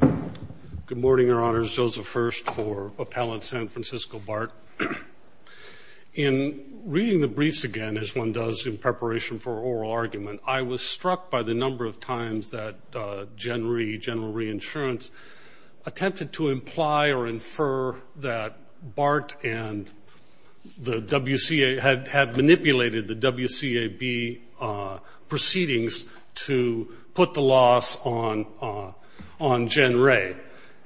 Good morning, Your Honors. Joseph Hurst for Appellant San Francisco BART. In reading the briefs again, as one does in preparation for oral argument, I was struck by the number of times that General Reinsurance attempted to imply or infer that BART and the WCA had manipulated the WCAB proceedings to put the loss on Jen Ray.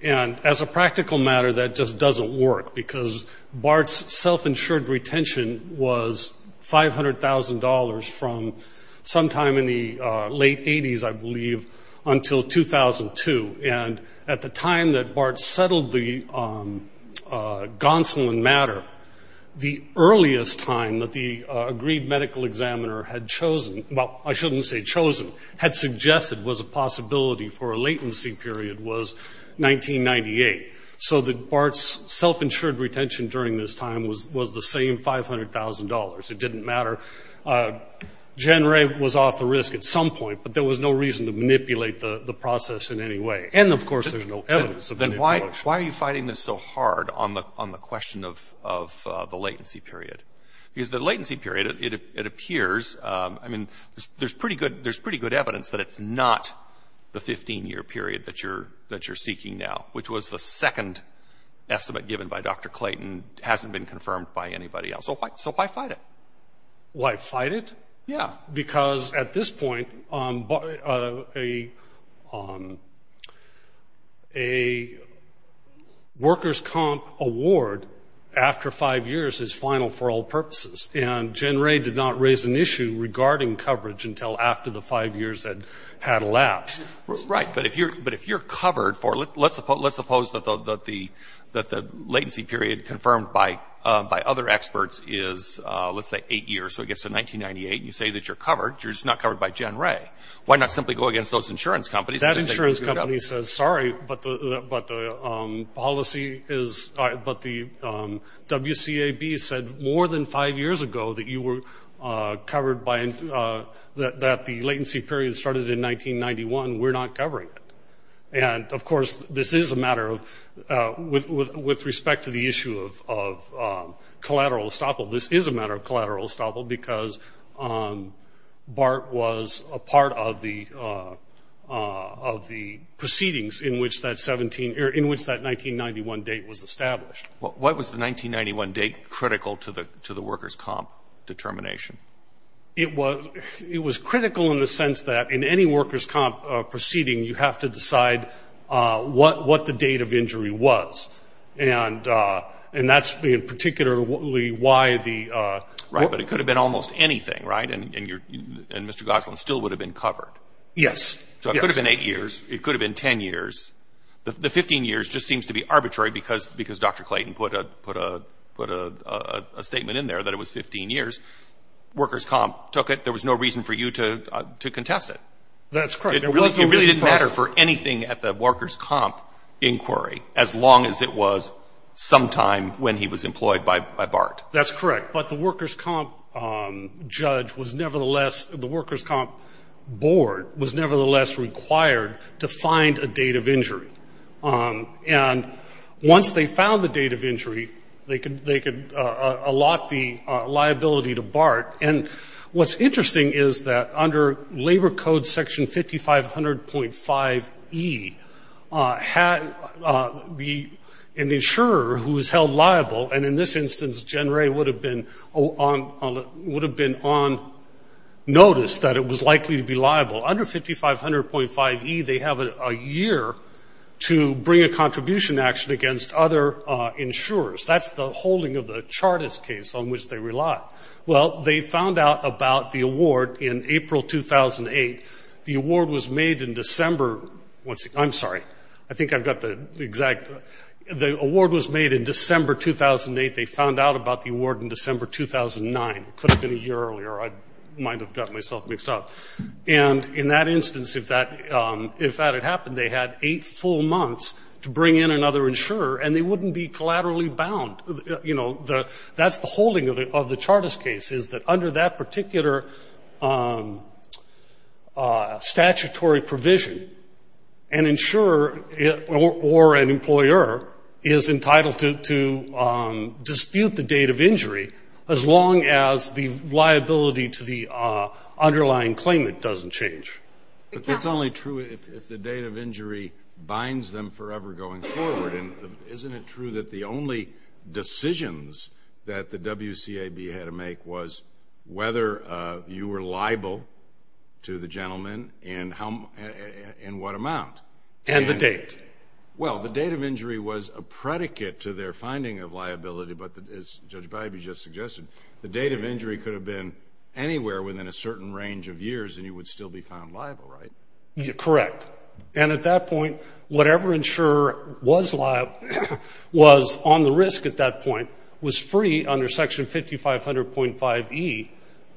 And as a practical matter, that just doesn't work, because BART's self-insured retention was $500,000 from sometime in the late 80s, I believe, until 2002. And at the time that BART settled the gonselin matter, the earliest time that the agreed medical examiner had chosen – well, I shouldn't say chosen, had suggested was a possibility for a latency period was 1998. So that BART's self-insured retention during this time was the same $500,000. It didn't matter. Jen Ray was off the risk at some point, but there was no reason to manipulate the process in any way. And, of course, there's no evidence of manipulation. Then why are you fighting this so hard on the question of the latency period? Because the latency period, it appears – I mean, there's pretty good evidence that it's not the 15-year period that you're seeking now, which was the second estimate given by Dr. Clayton, hasn't been confirmed by anybody else. So why fight it? Why fight it? Yeah. Because at this point, a workers' comp award after five years is final for all purposes. And Jen Ray did not raise an issue regarding coverage until after the five years had elapsed. Right. But if you're covered for – let's suppose that the latency period confirmed by other experts is, let's say, eight years. So it gets to 1998. You say that you're covered. You're just not covered by Jen Ray. Why not simply go against those insurance companies? That insurance company says, sorry, but the policy is – but the WCAB said more than five years ago that you were covered by – that the latency period started in 1991. We're not covering it. And, of course, this is a matter of – with respect to the issue of collateral estoppel, this is a matter of collateral estoppel because BART was a part of the proceedings in which that 17 – or in which that 1991 date was established. Why was the 1991 date critical to the workers' comp determination? It was critical in the sense that in any workers' comp proceeding, you have to decide what the date of injury was. And that's particularly why the – Right. But it could have been almost anything, right? And Mr. Goslin still would have been covered. Yes. So it could have been eight years. It could have been 10 years. The 15 years just seems to be arbitrary because Dr. Clayton put a statement in there that it was 15 years. Workers' comp took it. There was no reason for you to contest it. That's correct. It really didn't matter for anything at the workers' comp inquiry, as long as it was sometime when he was employed by BART. That's correct. But the workers' comp judge was nevertheless – the workers' comp board was nevertheless required to find a date of injury. And once they found the date of injury, they could allot the liability to BART. And what's interesting is that under Labor Code Section 5500.5e, the insurer who is held liable – and in this instance, Gen Ray would have been on notice that it was likely to be liable. Under 5500.5e, they have a year to bring a contribution action against other insurers. That's the holding of the Chartist case on which they rely. Well, they found out about the award in April 2008. The award was made in December – I'm sorry. I think I've got the exact – the award was made in December 2008. They found out about the award in December 2009. It could have been a year earlier. I might have gotten myself mixed up. And in that instance, if that had happened, they had eight full months to bring in another insurer, and they wouldn't be collaterally bound. You know, that's the holding of the Chartist case, is that under that particular statutory provision, an insurer or an employer is entitled to dispute the date of injury as long as the liability to the underlying claimant doesn't change. But that's only true if the date of injury binds them forever going forward. Isn't it true that the only decisions that the WCAB had to make was whether you were liable to the gentleman and what amount? And the date. Well, the date of injury was a predicate to their finding of liability, but as Judge Bybee just suggested, the date of injury could have been anywhere within a certain range of years, and you would still be found liable, right? Correct. And at that point, whatever insurer was liable, was on the risk at that point, was free under Section 5500.5e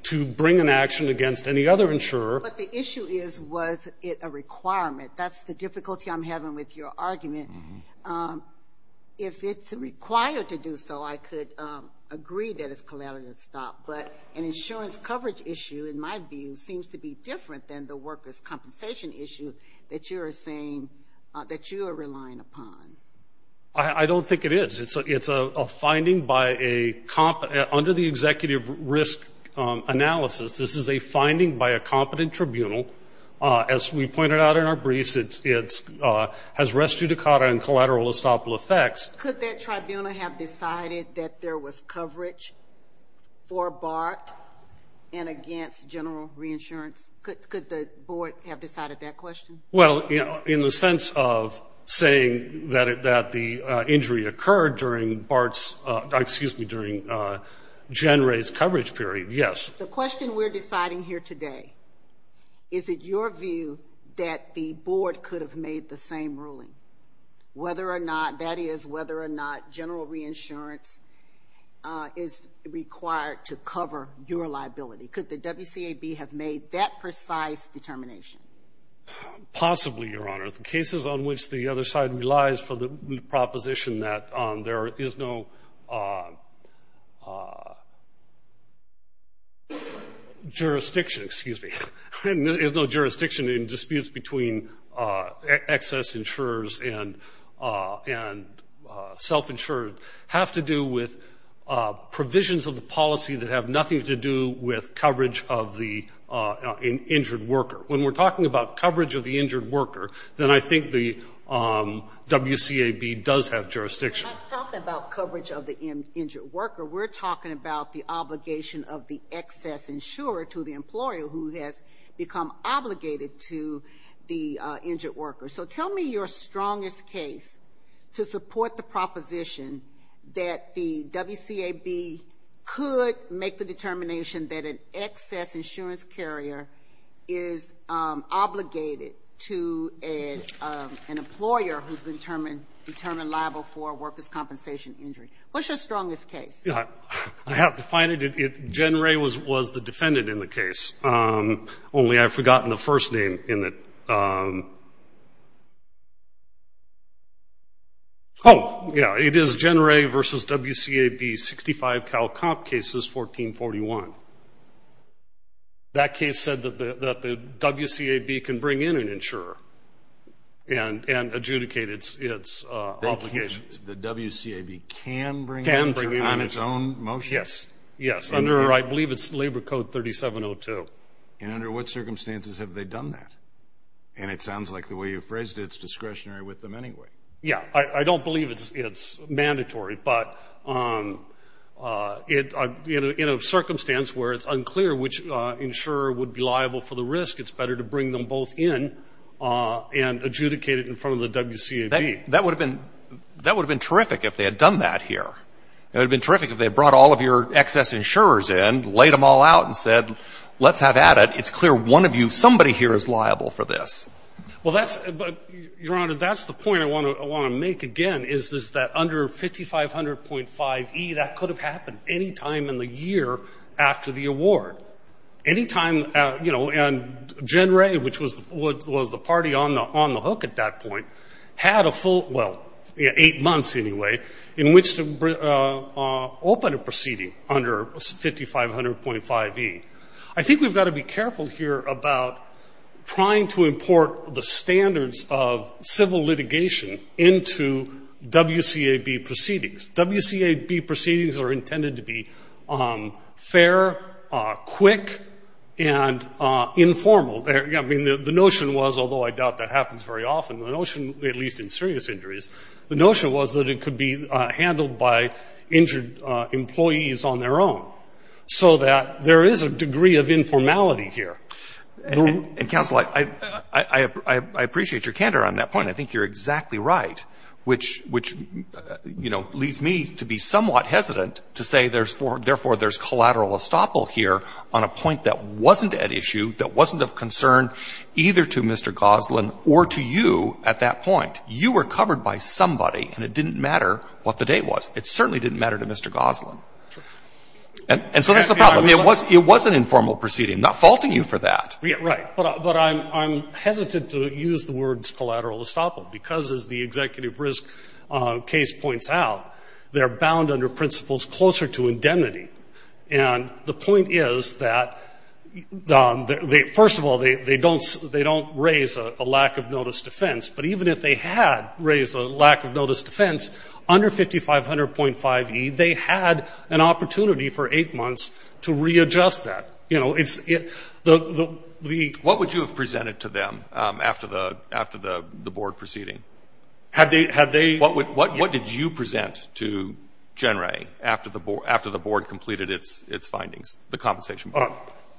to bring an action against any other insurer. But the issue is, was it a requirement? That's the difficulty I'm having with your argument. If it's required to do so, I could agree that it's collateral to stop. But an insurance coverage issue, in my view, seems to be different than the workers' compensation issue that you are relying upon. I don't think it is. It's a finding under the executive risk analysis. This is a finding by a competent tribunal. As we pointed out in our briefs, it has res judicata and collateral estoppel effects. Could that tribunal have decided that there was coverage for BART and against general reinsurance? Could the board have decided that question? Well, in the sense of saying that the injury occurred during BART's ‑‑ excuse me, during Gen Ray's coverage period, yes. The question we're deciding here today, is it your view that the board could have made the same ruling, whether or not, that is, whether or not general reinsurance is required to cover your liability? Could the WCAB have made that precise determination? Possibly, Your Honor. The cases on which the other side relies for the proposition that there is no jurisdiction, excuse me, there is no jurisdiction in disputes between excess insurers and self‑insured have to do with provisions of the policy that have nothing to do with coverage of the injured worker. When we're talking about coverage of the injured worker, then I think the WCAB does have jurisdiction. We're not talking about coverage of the injured worker. We're talking about the obligation of the excess insurer to the employer who has become obligated to the injured worker. So tell me your strongest case to support the proposition that the WCAB could make the determination that an excess insurance carrier is obligated to an employer who's been determined liable for a worker's compensation injury. What's your strongest case? Yeah. I have to find it. Jen Ray was the defendant in the case. Only I've forgotten the first name in it. Oh, yeah. It is Jen Ray v. WCAB 65 Cal Comp Cases 1441. That case said that the WCAB can bring in an insurer and adjudicate its obligation. The WCAB can bring in an insurer on its own motion? Yes. Yes. Under, I believe it's Labor Code 3702. And under what circumstances have they done that? And it sounds like the way you phrased it, it's discretionary with them anyway. Yeah. I don't believe it's mandatory, but in a circumstance where it's unclear which insurer would be liable for the risk, it's better to bring them both in and adjudicate it in front of the WCAB. That would have been terrific if they had done that here. It would have been terrific if they had brought all of your excess insurers in, laid them all out, and said, let's have at it. It's clear one of you, somebody here is liable for this. Well, that's, Your Honor, that's the point I want to make again is that under 5500.5E, that could have happened any time in the year after the award. Any time, you know, and Jen Ray, which was the party on the hook at that point, had a full, well, eight months anyway, in which to open a proceeding under 5500.5E. I think we've got to be careful here about trying to import the standards of civil litigation into WCAB proceedings. WCAB proceedings are intended to be fair, quick, and informal. I mean, the notion was, although I doubt that happens very often, the notion, at least in serious injuries, the notion was that it could be handled by injured employees on their own, so that there is a degree of informality here. And, Counsel, I appreciate your candor on that point. I think you're exactly right, which, you know, leads me to be somewhat hesitant to say therefore there's collateral estoppel here on a point that wasn't at issue, that wasn't of concern either to Mr. Goslin or to you at that point. You were covered by somebody, and it didn't matter what the date was. It certainly didn't matter to Mr. Goslin. And so that's the problem. I mean, it was an informal proceeding. I'm not faulting you for that. Right. But I'm hesitant to use the words collateral estoppel, because as the executive risk case points out, they're bound under principles closer to indemnity. And the point is that, first of all, they don't raise a lack of notice defense. But even if they had raised a lack of notice defense, under 5500.5e, they had an opportunity for eight months to readjust that. What would you have presented to them after the board proceeding? What did you present to Gen Ray after the board completed its findings, the compensation?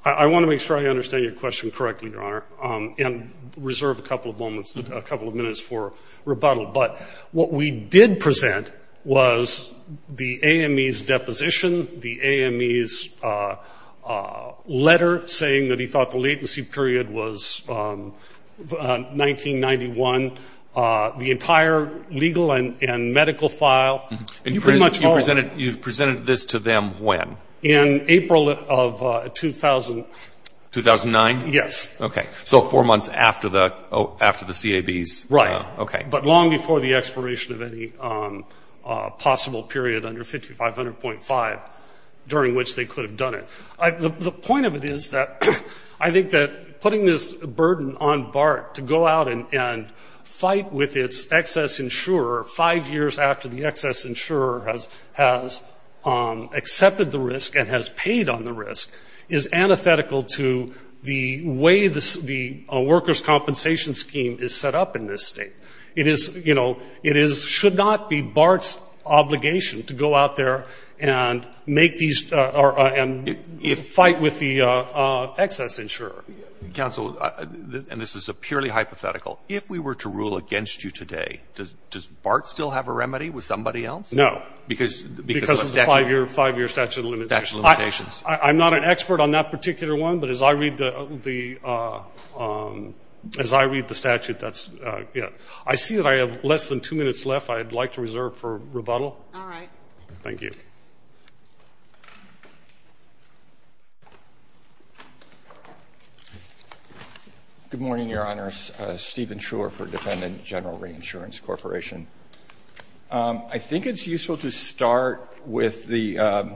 I want to make sure I understand your question correctly, Your Honor, and reserve a couple of moments, a couple of minutes for rebuttal. But what we did present was the AME's deposition, the AME's letter saying that he was going to be released on April 1st, 1991, the entire legal and medical file. And you presented this to them when? In April of 2000. 2009? Yes. Okay. So four months after the CAB's. Right. Okay. But long before the expiration of any possible period under 5500.5, during which they could have done it. The point of it is that I think that putting this burden on BART to go out and fight with its excess insurer five years after the excess insurer has accepted the risk and has paid on the risk is antithetical to the way the workers' compensation scheme is set up in this state. It is, you know, it should not be BART's obligation to go out there and make these or fight with the excess insurer. Counsel, and this is a purely hypothetical, if we were to rule against you today, does BART still have a remedy with somebody else? No. Because of the statute. Because of the five-year statute of limitations. I'm not an expert on that particular one, but as I read the statute, that's it. I see that I have less than two minutes left I'd like to reserve for rebuttal. All right. Thank you. Good morning, Your Honors. Steven Shurer for Defendant General Reinsurance Corporation. I think it's useful to start with the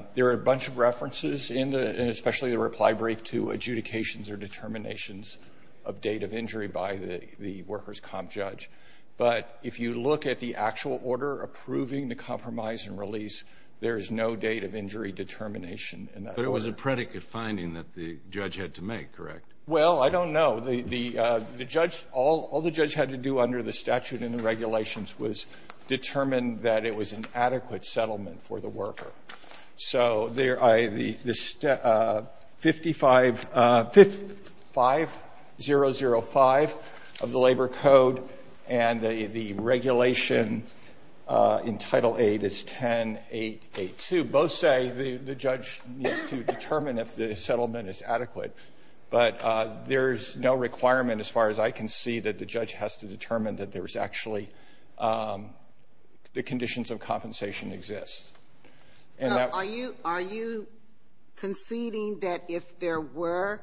— there are a bunch of references in the — and especially the reply brief to adjudications or determinations of date of injury by the workers' comp judge. But if you look at the actual order approving the compromise and release, there is no date of injury determination in that order. But it was a predicate finding that the judge had to make, correct? Well, I don't know. The judge — all the judge had to do under the statute and the regulations So there I — the 55005 of the Labor Code and the regulation in Title VIII is 10882. Both say the judge needs to determine if the settlement is adequate. But there is no requirement as far as I can see that the judge has to determine that there is actually — the conditions of compensation exist. And that — Are you — are you conceding that if there were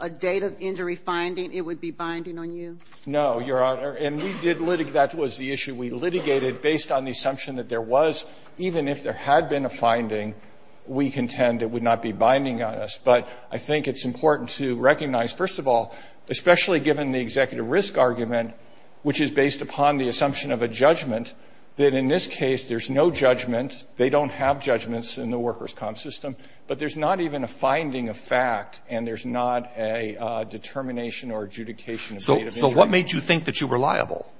a date of injury finding, it would be binding on you? No, Your Honor. And we did — that was the issue we litigated based on the assumption that there was, even if there had been a finding, we contend it would not be binding on us. But I think it's important to recognize, first of all, especially given the executive risk argument, which is based upon the assumption of a judgment, that in this case there's no judgment. They don't have judgments in the workers' comp system. But there's not even a finding of fact, and there's not a determination or adjudication of date of injury. So what made you think that you were liable?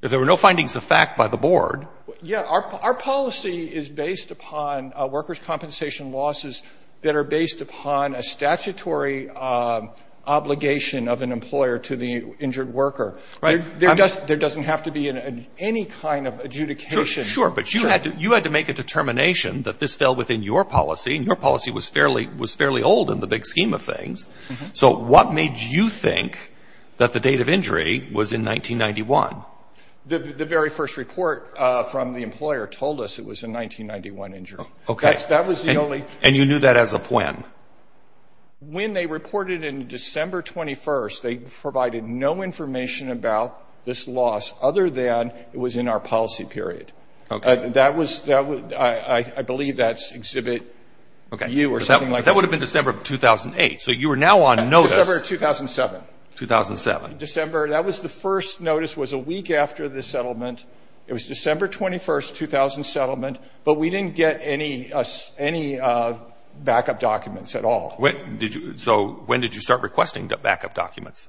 If there were no findings of fact by the board — Yeah. Our policy is based upon workers' compensation losses that are based upon a statutory obligation of an employer to the injured worker. Right. There doesn't have to be any kind of adjudication. Sure, but you had to make a determination that this fell within your policy, and your policy was fairly old in the big scheme of things. So what made you think that the date of injury was in 1991? The very first report from the employer told us it was a 1991 injury. Okay. That was the only — And you knew that as of when? When they reported in December 21st, they provided no information about this loss, other than it was in our policy period. Okay. That was — I believe that's Exhibit U or something like that. Okay. But that would have been December of 2008. So you were now on notice. December of 2007. 2007. December. That was the first notice, was a week after the settlement. It was December 21st, 2000 settlement, but we didn't get any backup documents at all. So when did you start requesting backup documents?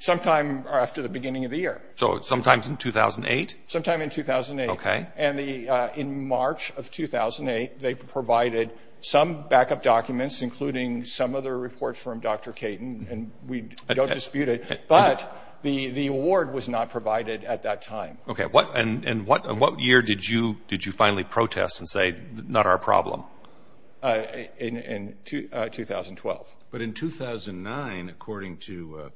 Sometime after the beginning of the year. So sometime in 2008? Sometime in 2008. Okay. And in March of 2008, they provided some backup documents, including some of the reports from Dr. Caton, and we don't dispute it. But the award was not provided at that time. Okay. And what year did you finally protest and say, not our problem? In 2012. But in 2009, according to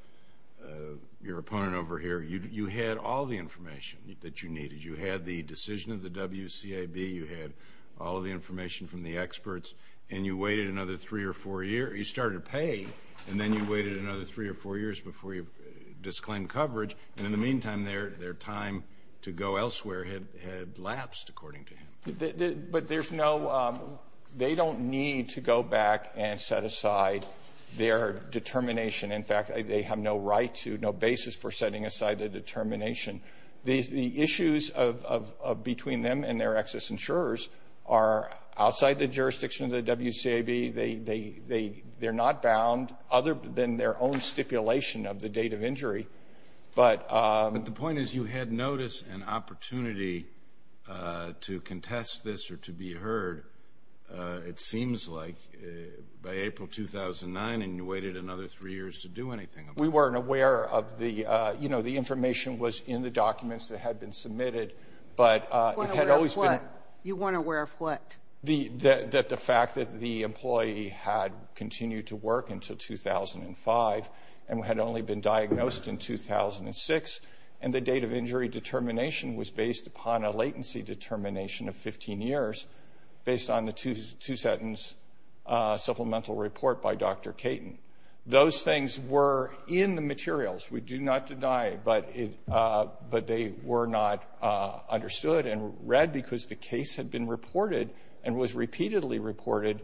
your opponent over here, you had all the information that you needed. You had the decision of the WCAB. You had all of the information from the experts. And you waited another three or four years. You started to pay, and then you waited another three or four years before you disclaimed coverage. And in the meantime, their time to go elsewhere had lapsed, according to him. But there's no – they don't need to go back and set aside their determination. In fact, they have no right to, no basis for setting aside their determination. The issues between them and their excess insurers are outside the jurisdiction of the WCAB. They're not bound, other than their own stipulation of the date of injury. But the point is you had notice and opportunity to contest this or to be heard, it seems like, by April 2009. And you waited another three years to do anything about it. We weren't aware of the – you know, the information was in the documents that had been submitted. But it had always been – You weren't aware of what? The fact that the employee had continued to work until 2005 and had only been diagnosed in 2006, and the date of injury determination was based upon a latency determination of 15 years, based on the two-sentence supplemental report by Dr. Caton. Those things were in the materials. We do not deny, but they were not understood and read because the case had been reported and was repeatedly reported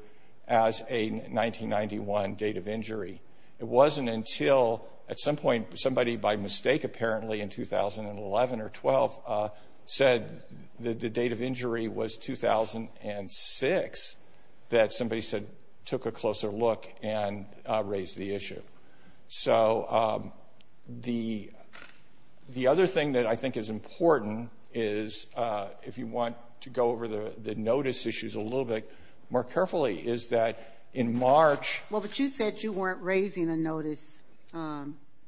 as a 1991 date of injury. It wasn't until, at some point, somebody by mistake apparently in 2011 or 12 said the date of injury was 2006, that somebody said – took a closer look and raised the issue. So the other thing that I think is important is, if you want to go over the notice issues a little bit more carefully, is that in March – Well, but you said you weren't raising a notice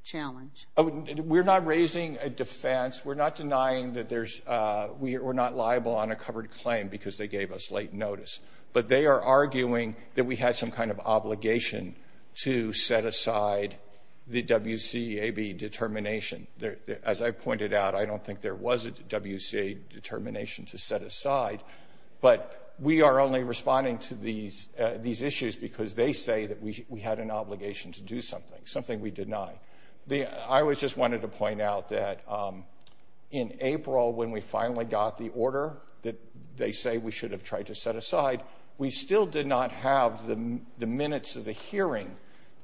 challenge. We're not raising a defense. We're not denying that there's – we're not liable on a covered claim because they gave us late notice. But they are arguing that we had some kind of obligation to set aside the WCAB determination. As I pointed out, I don't think there was a WCAB determination to set aside, but we are only responding to these issues because they say that we had an obligation to do something, something we deny. I just wanted to point out that in April, when we finally got the order that they say we should have tried to set aside, we still did not have the minutes of the hearing,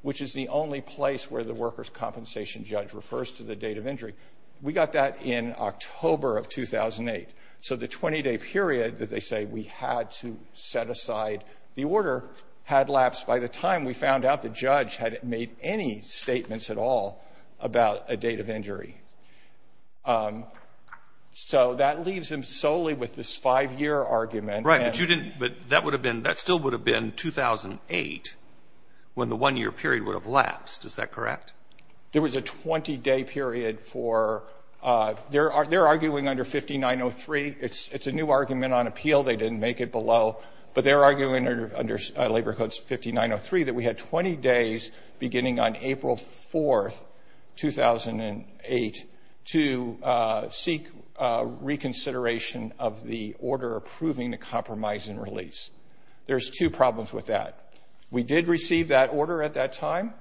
which is the only place where the workers' compensation judge refers to the date of injury. We got that in October of 2008. So the 20-day period that they say we had to set aside the order had lapsed. By the time we found out, the judge hadn't made any statements at all about a date of injury. So that leaves him solely with this 5-year argument. Right, but you didn't – but that would have been – that still would have been 2008 when the 1-year period would have lapsed. Is that correct? There was a 20-day period for – they're arguing under 5903. It's a new argument on appeal. They didn't make it below. But they're arguing under Labor Codes 5903 that we had 20 days beginning on April 4th, 2008, to seek reconsideration of the order approving the compromise and release. There's two problems with that. We did receive that order at that time,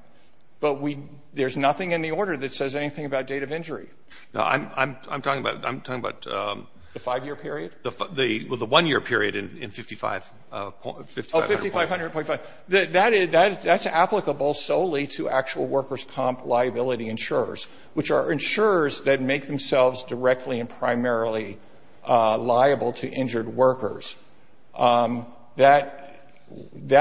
but we – there's nothing in the order that says anything about date of injury. No, I'm talking about – I'm talking about the 5-year period? The 1-year period in 5500.5. Oh, 5500.5. That's applicable solely to actual workers' comp liability insurers, which are insurers that make themselves directly and primarily liable to injured workers. That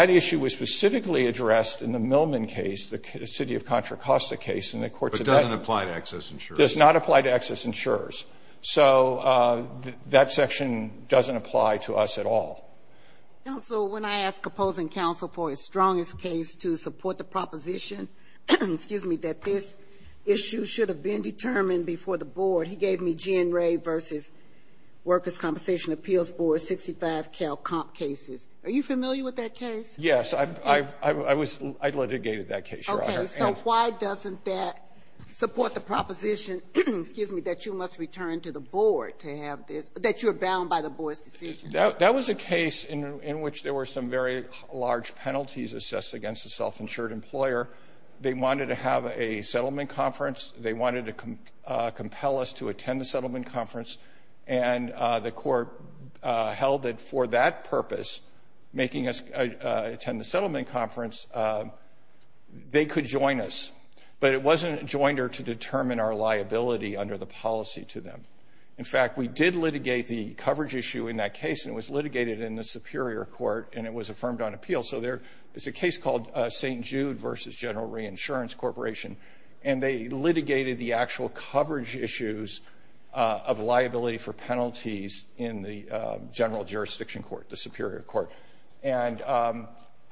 issue was specifically addressed in the Millman case, the city of Contra Costa case in the courts of that. But it doesn't apply to excess insurers. It does not apply to excess insurers. So that section doesn't apply to us at all. Counsel, when I asked opposing counsel for his strongest case to support the proposition – excuse me – that this issue should have been determined before the board, he gave me Gin Ray v. Workers' Compensation Appeals Board 65 Cal Comp cases. Are you familiar with that case? Yes. I was – I litigated that case, Your Honor. Okay. So why doesn't that support the proposition – excuse me – that you must return to the board to have this – that you're bound by the board's decision? That was a case in which there were some very large penalties assessed against a self-insured employer. They wanted to have a settlement conference. They wanted to compel us to attend the settlement conference, and the court held it for that purpose, making us attend the settlement conference. They could join us, but it wasn't a joinder to determine our liability under the policy to them. In fact, we did litigate the coverage issue in that case, and it was litigated in the superior court, and it was affirmed on appeal. So there is a case called St. Jude v. General Reinsurance Corporation, and they litigated the actual coverage issues of liability for penalties in the general jurisdiction court, the superior court. And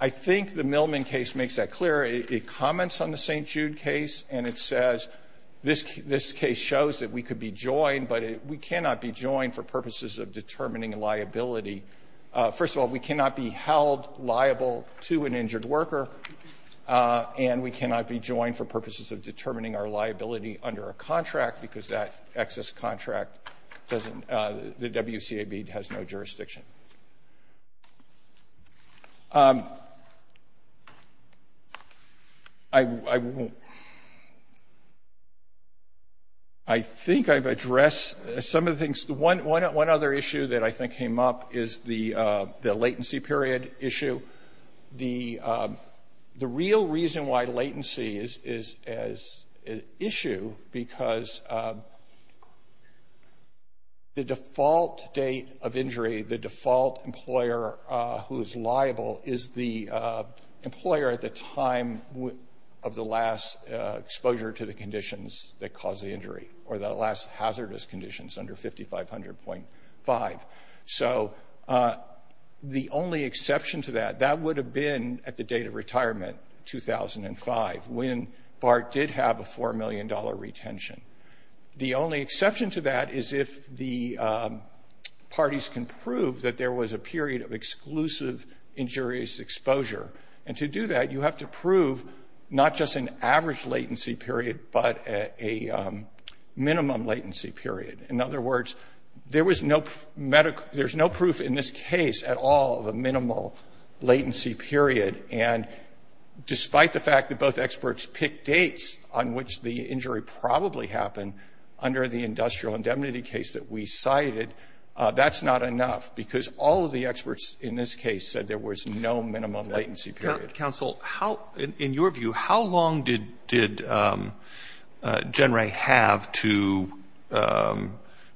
I think the Millman case makes that clear. It comments on the St. Jude case, and it says this case shows that we could be joined, but we cannot be joined for purposes of determining liability. First of all, we cannot be held liable to an injured worker, and we cannot be joined for purposes of determining our liability under a contract because that excess contract doesn't – the WCAB has no jurisdiction. I won't. I think I've addressed some of the things. One other issue that I think came up is the latency period issue. The real reason why latency is an issue, because the default date of injury, the default employer who is liable is the employer at the time of the last exposure to the conditions that caused the injury or the last hazardous conditions under 5500.5. So the only exception to that, that would have been at the date of retirement, 2005, when BART did have a $4 million retention. The only exception to that is if the parties can prove that there was a period of exclusive injurious exposure. And to do that, you have to prove not just an average latency period, but a minimum latency period. In other words, there was no – there's no proof in this case at all of a minimal latency period. And despite the fact that both experts picked dates on which the injury probably happened under the industrial indemnity case that we cited, that's not enough because all of the experts in this case said there was no minimum latency period. Counsel, how – in your view, how long did Gen Ray have to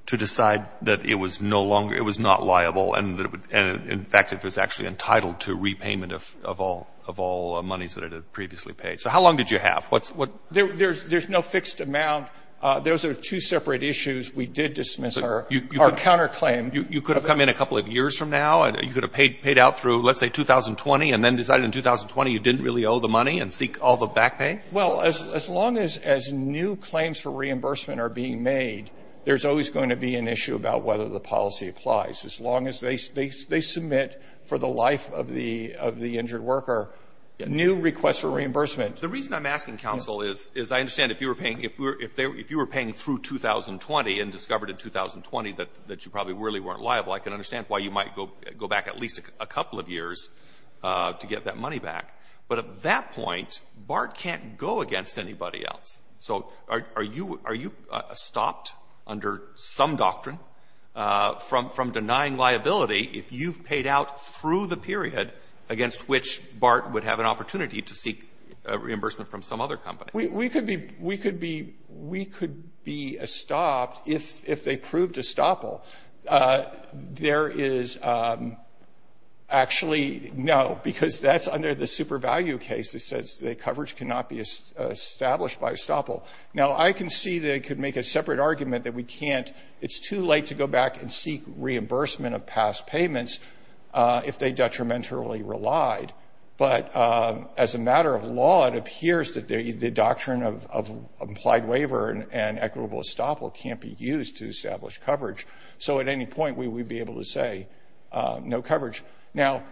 decide that it was no longer – it was not liable and that it would – and in fact, it was actually entitled to repayment of all monies that it had previously paid? So how long did you have? There's no fixed amount. Those are two separate issues. We did dismiss our counterclaim. You could have come in a couple of years from now. You could have paid out through, let's say, 2020 and then decided in 2020 you didn't really owe the money and seek all the back pay? Well, as long as new claims for reimbursement are being made, there's always going to be an issue about whether the policy applies. As long as they submit for the life of the injured worker new requests for reimbursement. The reason I'm asking, counsel, is I understand if you were paying – if you were paying through 2020 and discovered in 2020 that you probably really weren't liable, I can understand why you might go back at least a couple of years to get that money back. But at that point, BART can't go against anybody else. So are you – are you stopped under some doctrine from denying liability if you've paid out through the period against which BART would have an opportunity to seek reimbursement from some other company? We could be – we could be – we could be stopped if they proved estoppel. There is actually no, because that's under the super value case that says the coverage cannot be established by estoppel. Now, I can see they could make a separate argument that we can't – it's too late to go back and seek reimbursement of past payments if they detrimentally relied. But as a matter of law, it appears that the doctrine of implied waiver and equitable estoppel can't be used to establish coverage. So at any point, we would be able to say no coverage. Now,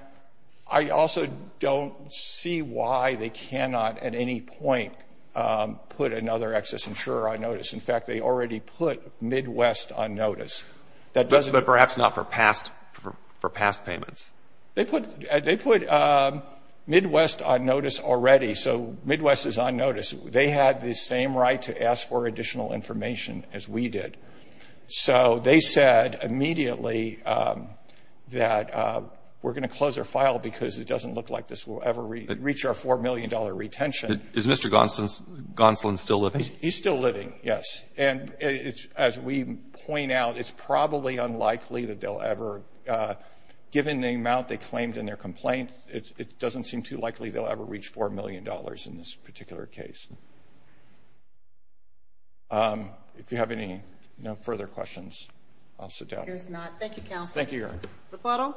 I also don't see why they cannot at any point put another excess insurer on notice. In fact, they already put Midwest on notice. That doesn't – But perhaps not for past – for past payments. They put – they put Midwest on notice already. So Midwest is on notice. They had the same right to ask for additional information as we did. So they said immediately that we're going to close our file because it doesn't look like this will ever reach our $4 million retention. Is Mr. Gonsolin still living? He's still living, yes. And it's – as we point out, it's probably unlikely that they'll ever – given the amount they claimed in their complaint, it doesn't seem too likely they'll ever reach $4 million in this particular case. If you have any – no further questions, I'll sit down. There's not. Thank you, counsel. Thank you, Your Honor.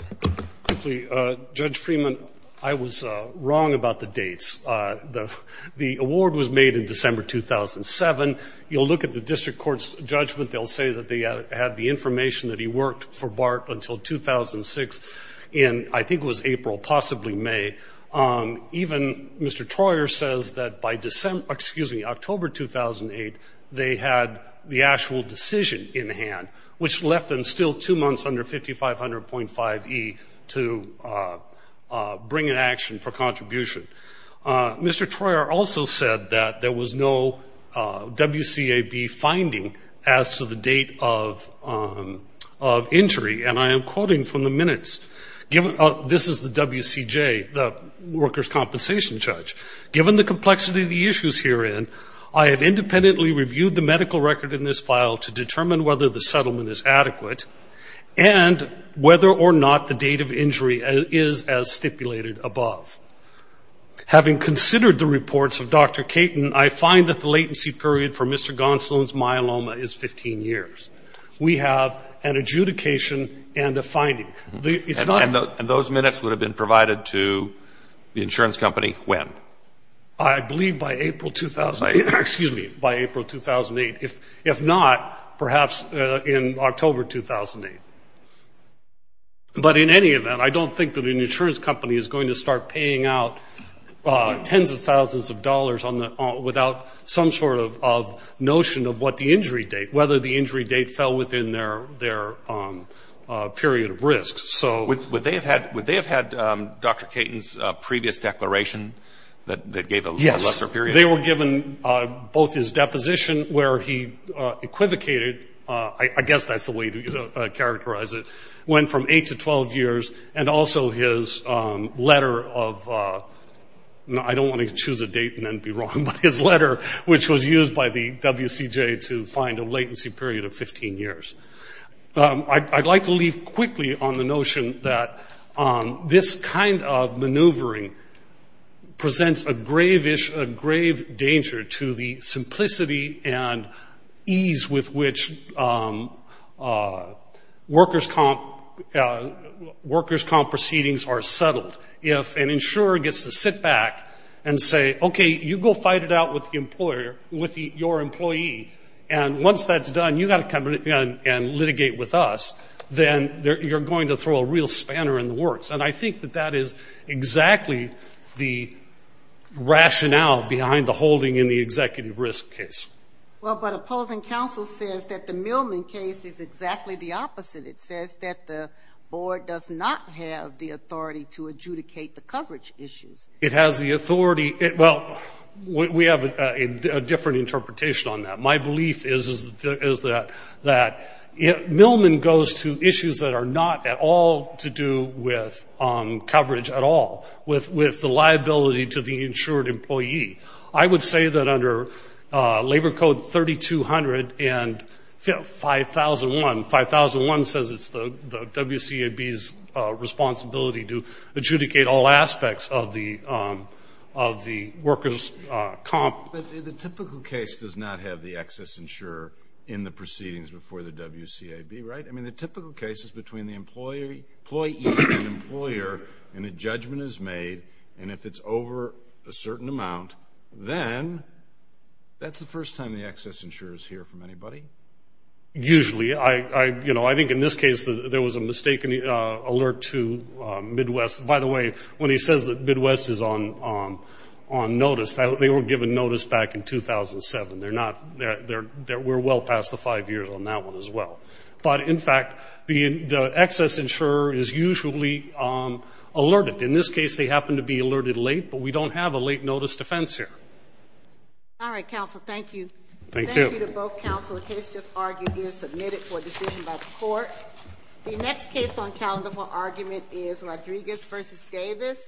Rapado? Quickly, Judge Freeman, I was wrong about the dates. The award was made in December 2007. You'll look at the district court's judgment. They'll say that they had the information that he worked for BART until 2006 in, I think it was April, possibly May. Even Mr. Troyer says that by – excuse me, October 2008, they had the actual decision in hand, which left them still two months under 5500.5e to bring an action for contribution. Mr. Troyer also said that there was no WCAB finding as to the date of entry. And I am quoting from the minutes. This is the WCJ, the workers' compensation judge. Given the complexity of the issues herein, I have independently reviewed the medical record in this file to determine whether the settlement is adequate and whether or not the date of injury is as stipulated above. Having considered the reports of Dr. Caton, I find that the latency period for Mr. Gonsalon's myeloma is 15 years. We have an adjudication and a finding. It's not – And those minutes would have been provided to the insurance company when? I believe by April – excuse me, by April 2008. If not, perhaps in October 2008. But in any event, I don't think that an insurance company is going to start paying out tens of thousands of dollars on the – without some sort of notion of what the injury date – whether the injury date fell within their period of risk. Would they have had Dr. Caton's previous declaration that gave a lesser period? Yes. They were given both his deposition where he equivocated – I guess that's the way to characterize it – went from 8 to 12 years, and also his letter of – I don't want to choose a date and then be wrong, but his letter, which was used by the WCJ to find a latency period of 15 years. I'd like to leave quickly on the notion that this kind of maneuvering presents a grave danger to the simplicity and ease with which workers' comp proceedings are settled. If an insurer gets to sit back and say, okay, you go fight it out with the employer – with your employee – and once that's done, you've got to come in and litigate with us, then you're going to throw a real spanner in the works. And I think that that is exactly the rationale behind the holding in the executive risk case. Well, but opposing counsel says that the Millman case is exactly the opposite. It says that the board does not have the authority to adjudicate the coverage issues. It has the authority – well, we have a different interpretation on that. My belief is that Millman goes to issues that are not at all to do with coverage at all, with the liability to the insured employee. I would say that under Labor Code 3200 and 5001 – 5001 says it's the WCAB's responsibility to adjudicate all aspects of the workers' comp. But the typical case does not have the excess insurer in the proceedings before the WCAB, right? I mean, the typical case is between the employee and the employer, and a judgment is made. And if it's over a certain amount, then that's the first time the excess insurer is here from anybody? Usually. You know, I think in this case there was a mistaken alert to Midwest. By the way, when he says that Midwest is on notice, they were given notice back in 2007. They're not – we're well past the five years on that one as well. But, in fact, the excess insurer is usually alerted. In this case, they happen to be alerted late, but we don't have a late notice defense here. All right, counsel, thank you. Thank you. Thank you to both counsel. The case just argued is submitted for decision by the court. The next case on calendar for argument is Rodriguez v. Davis.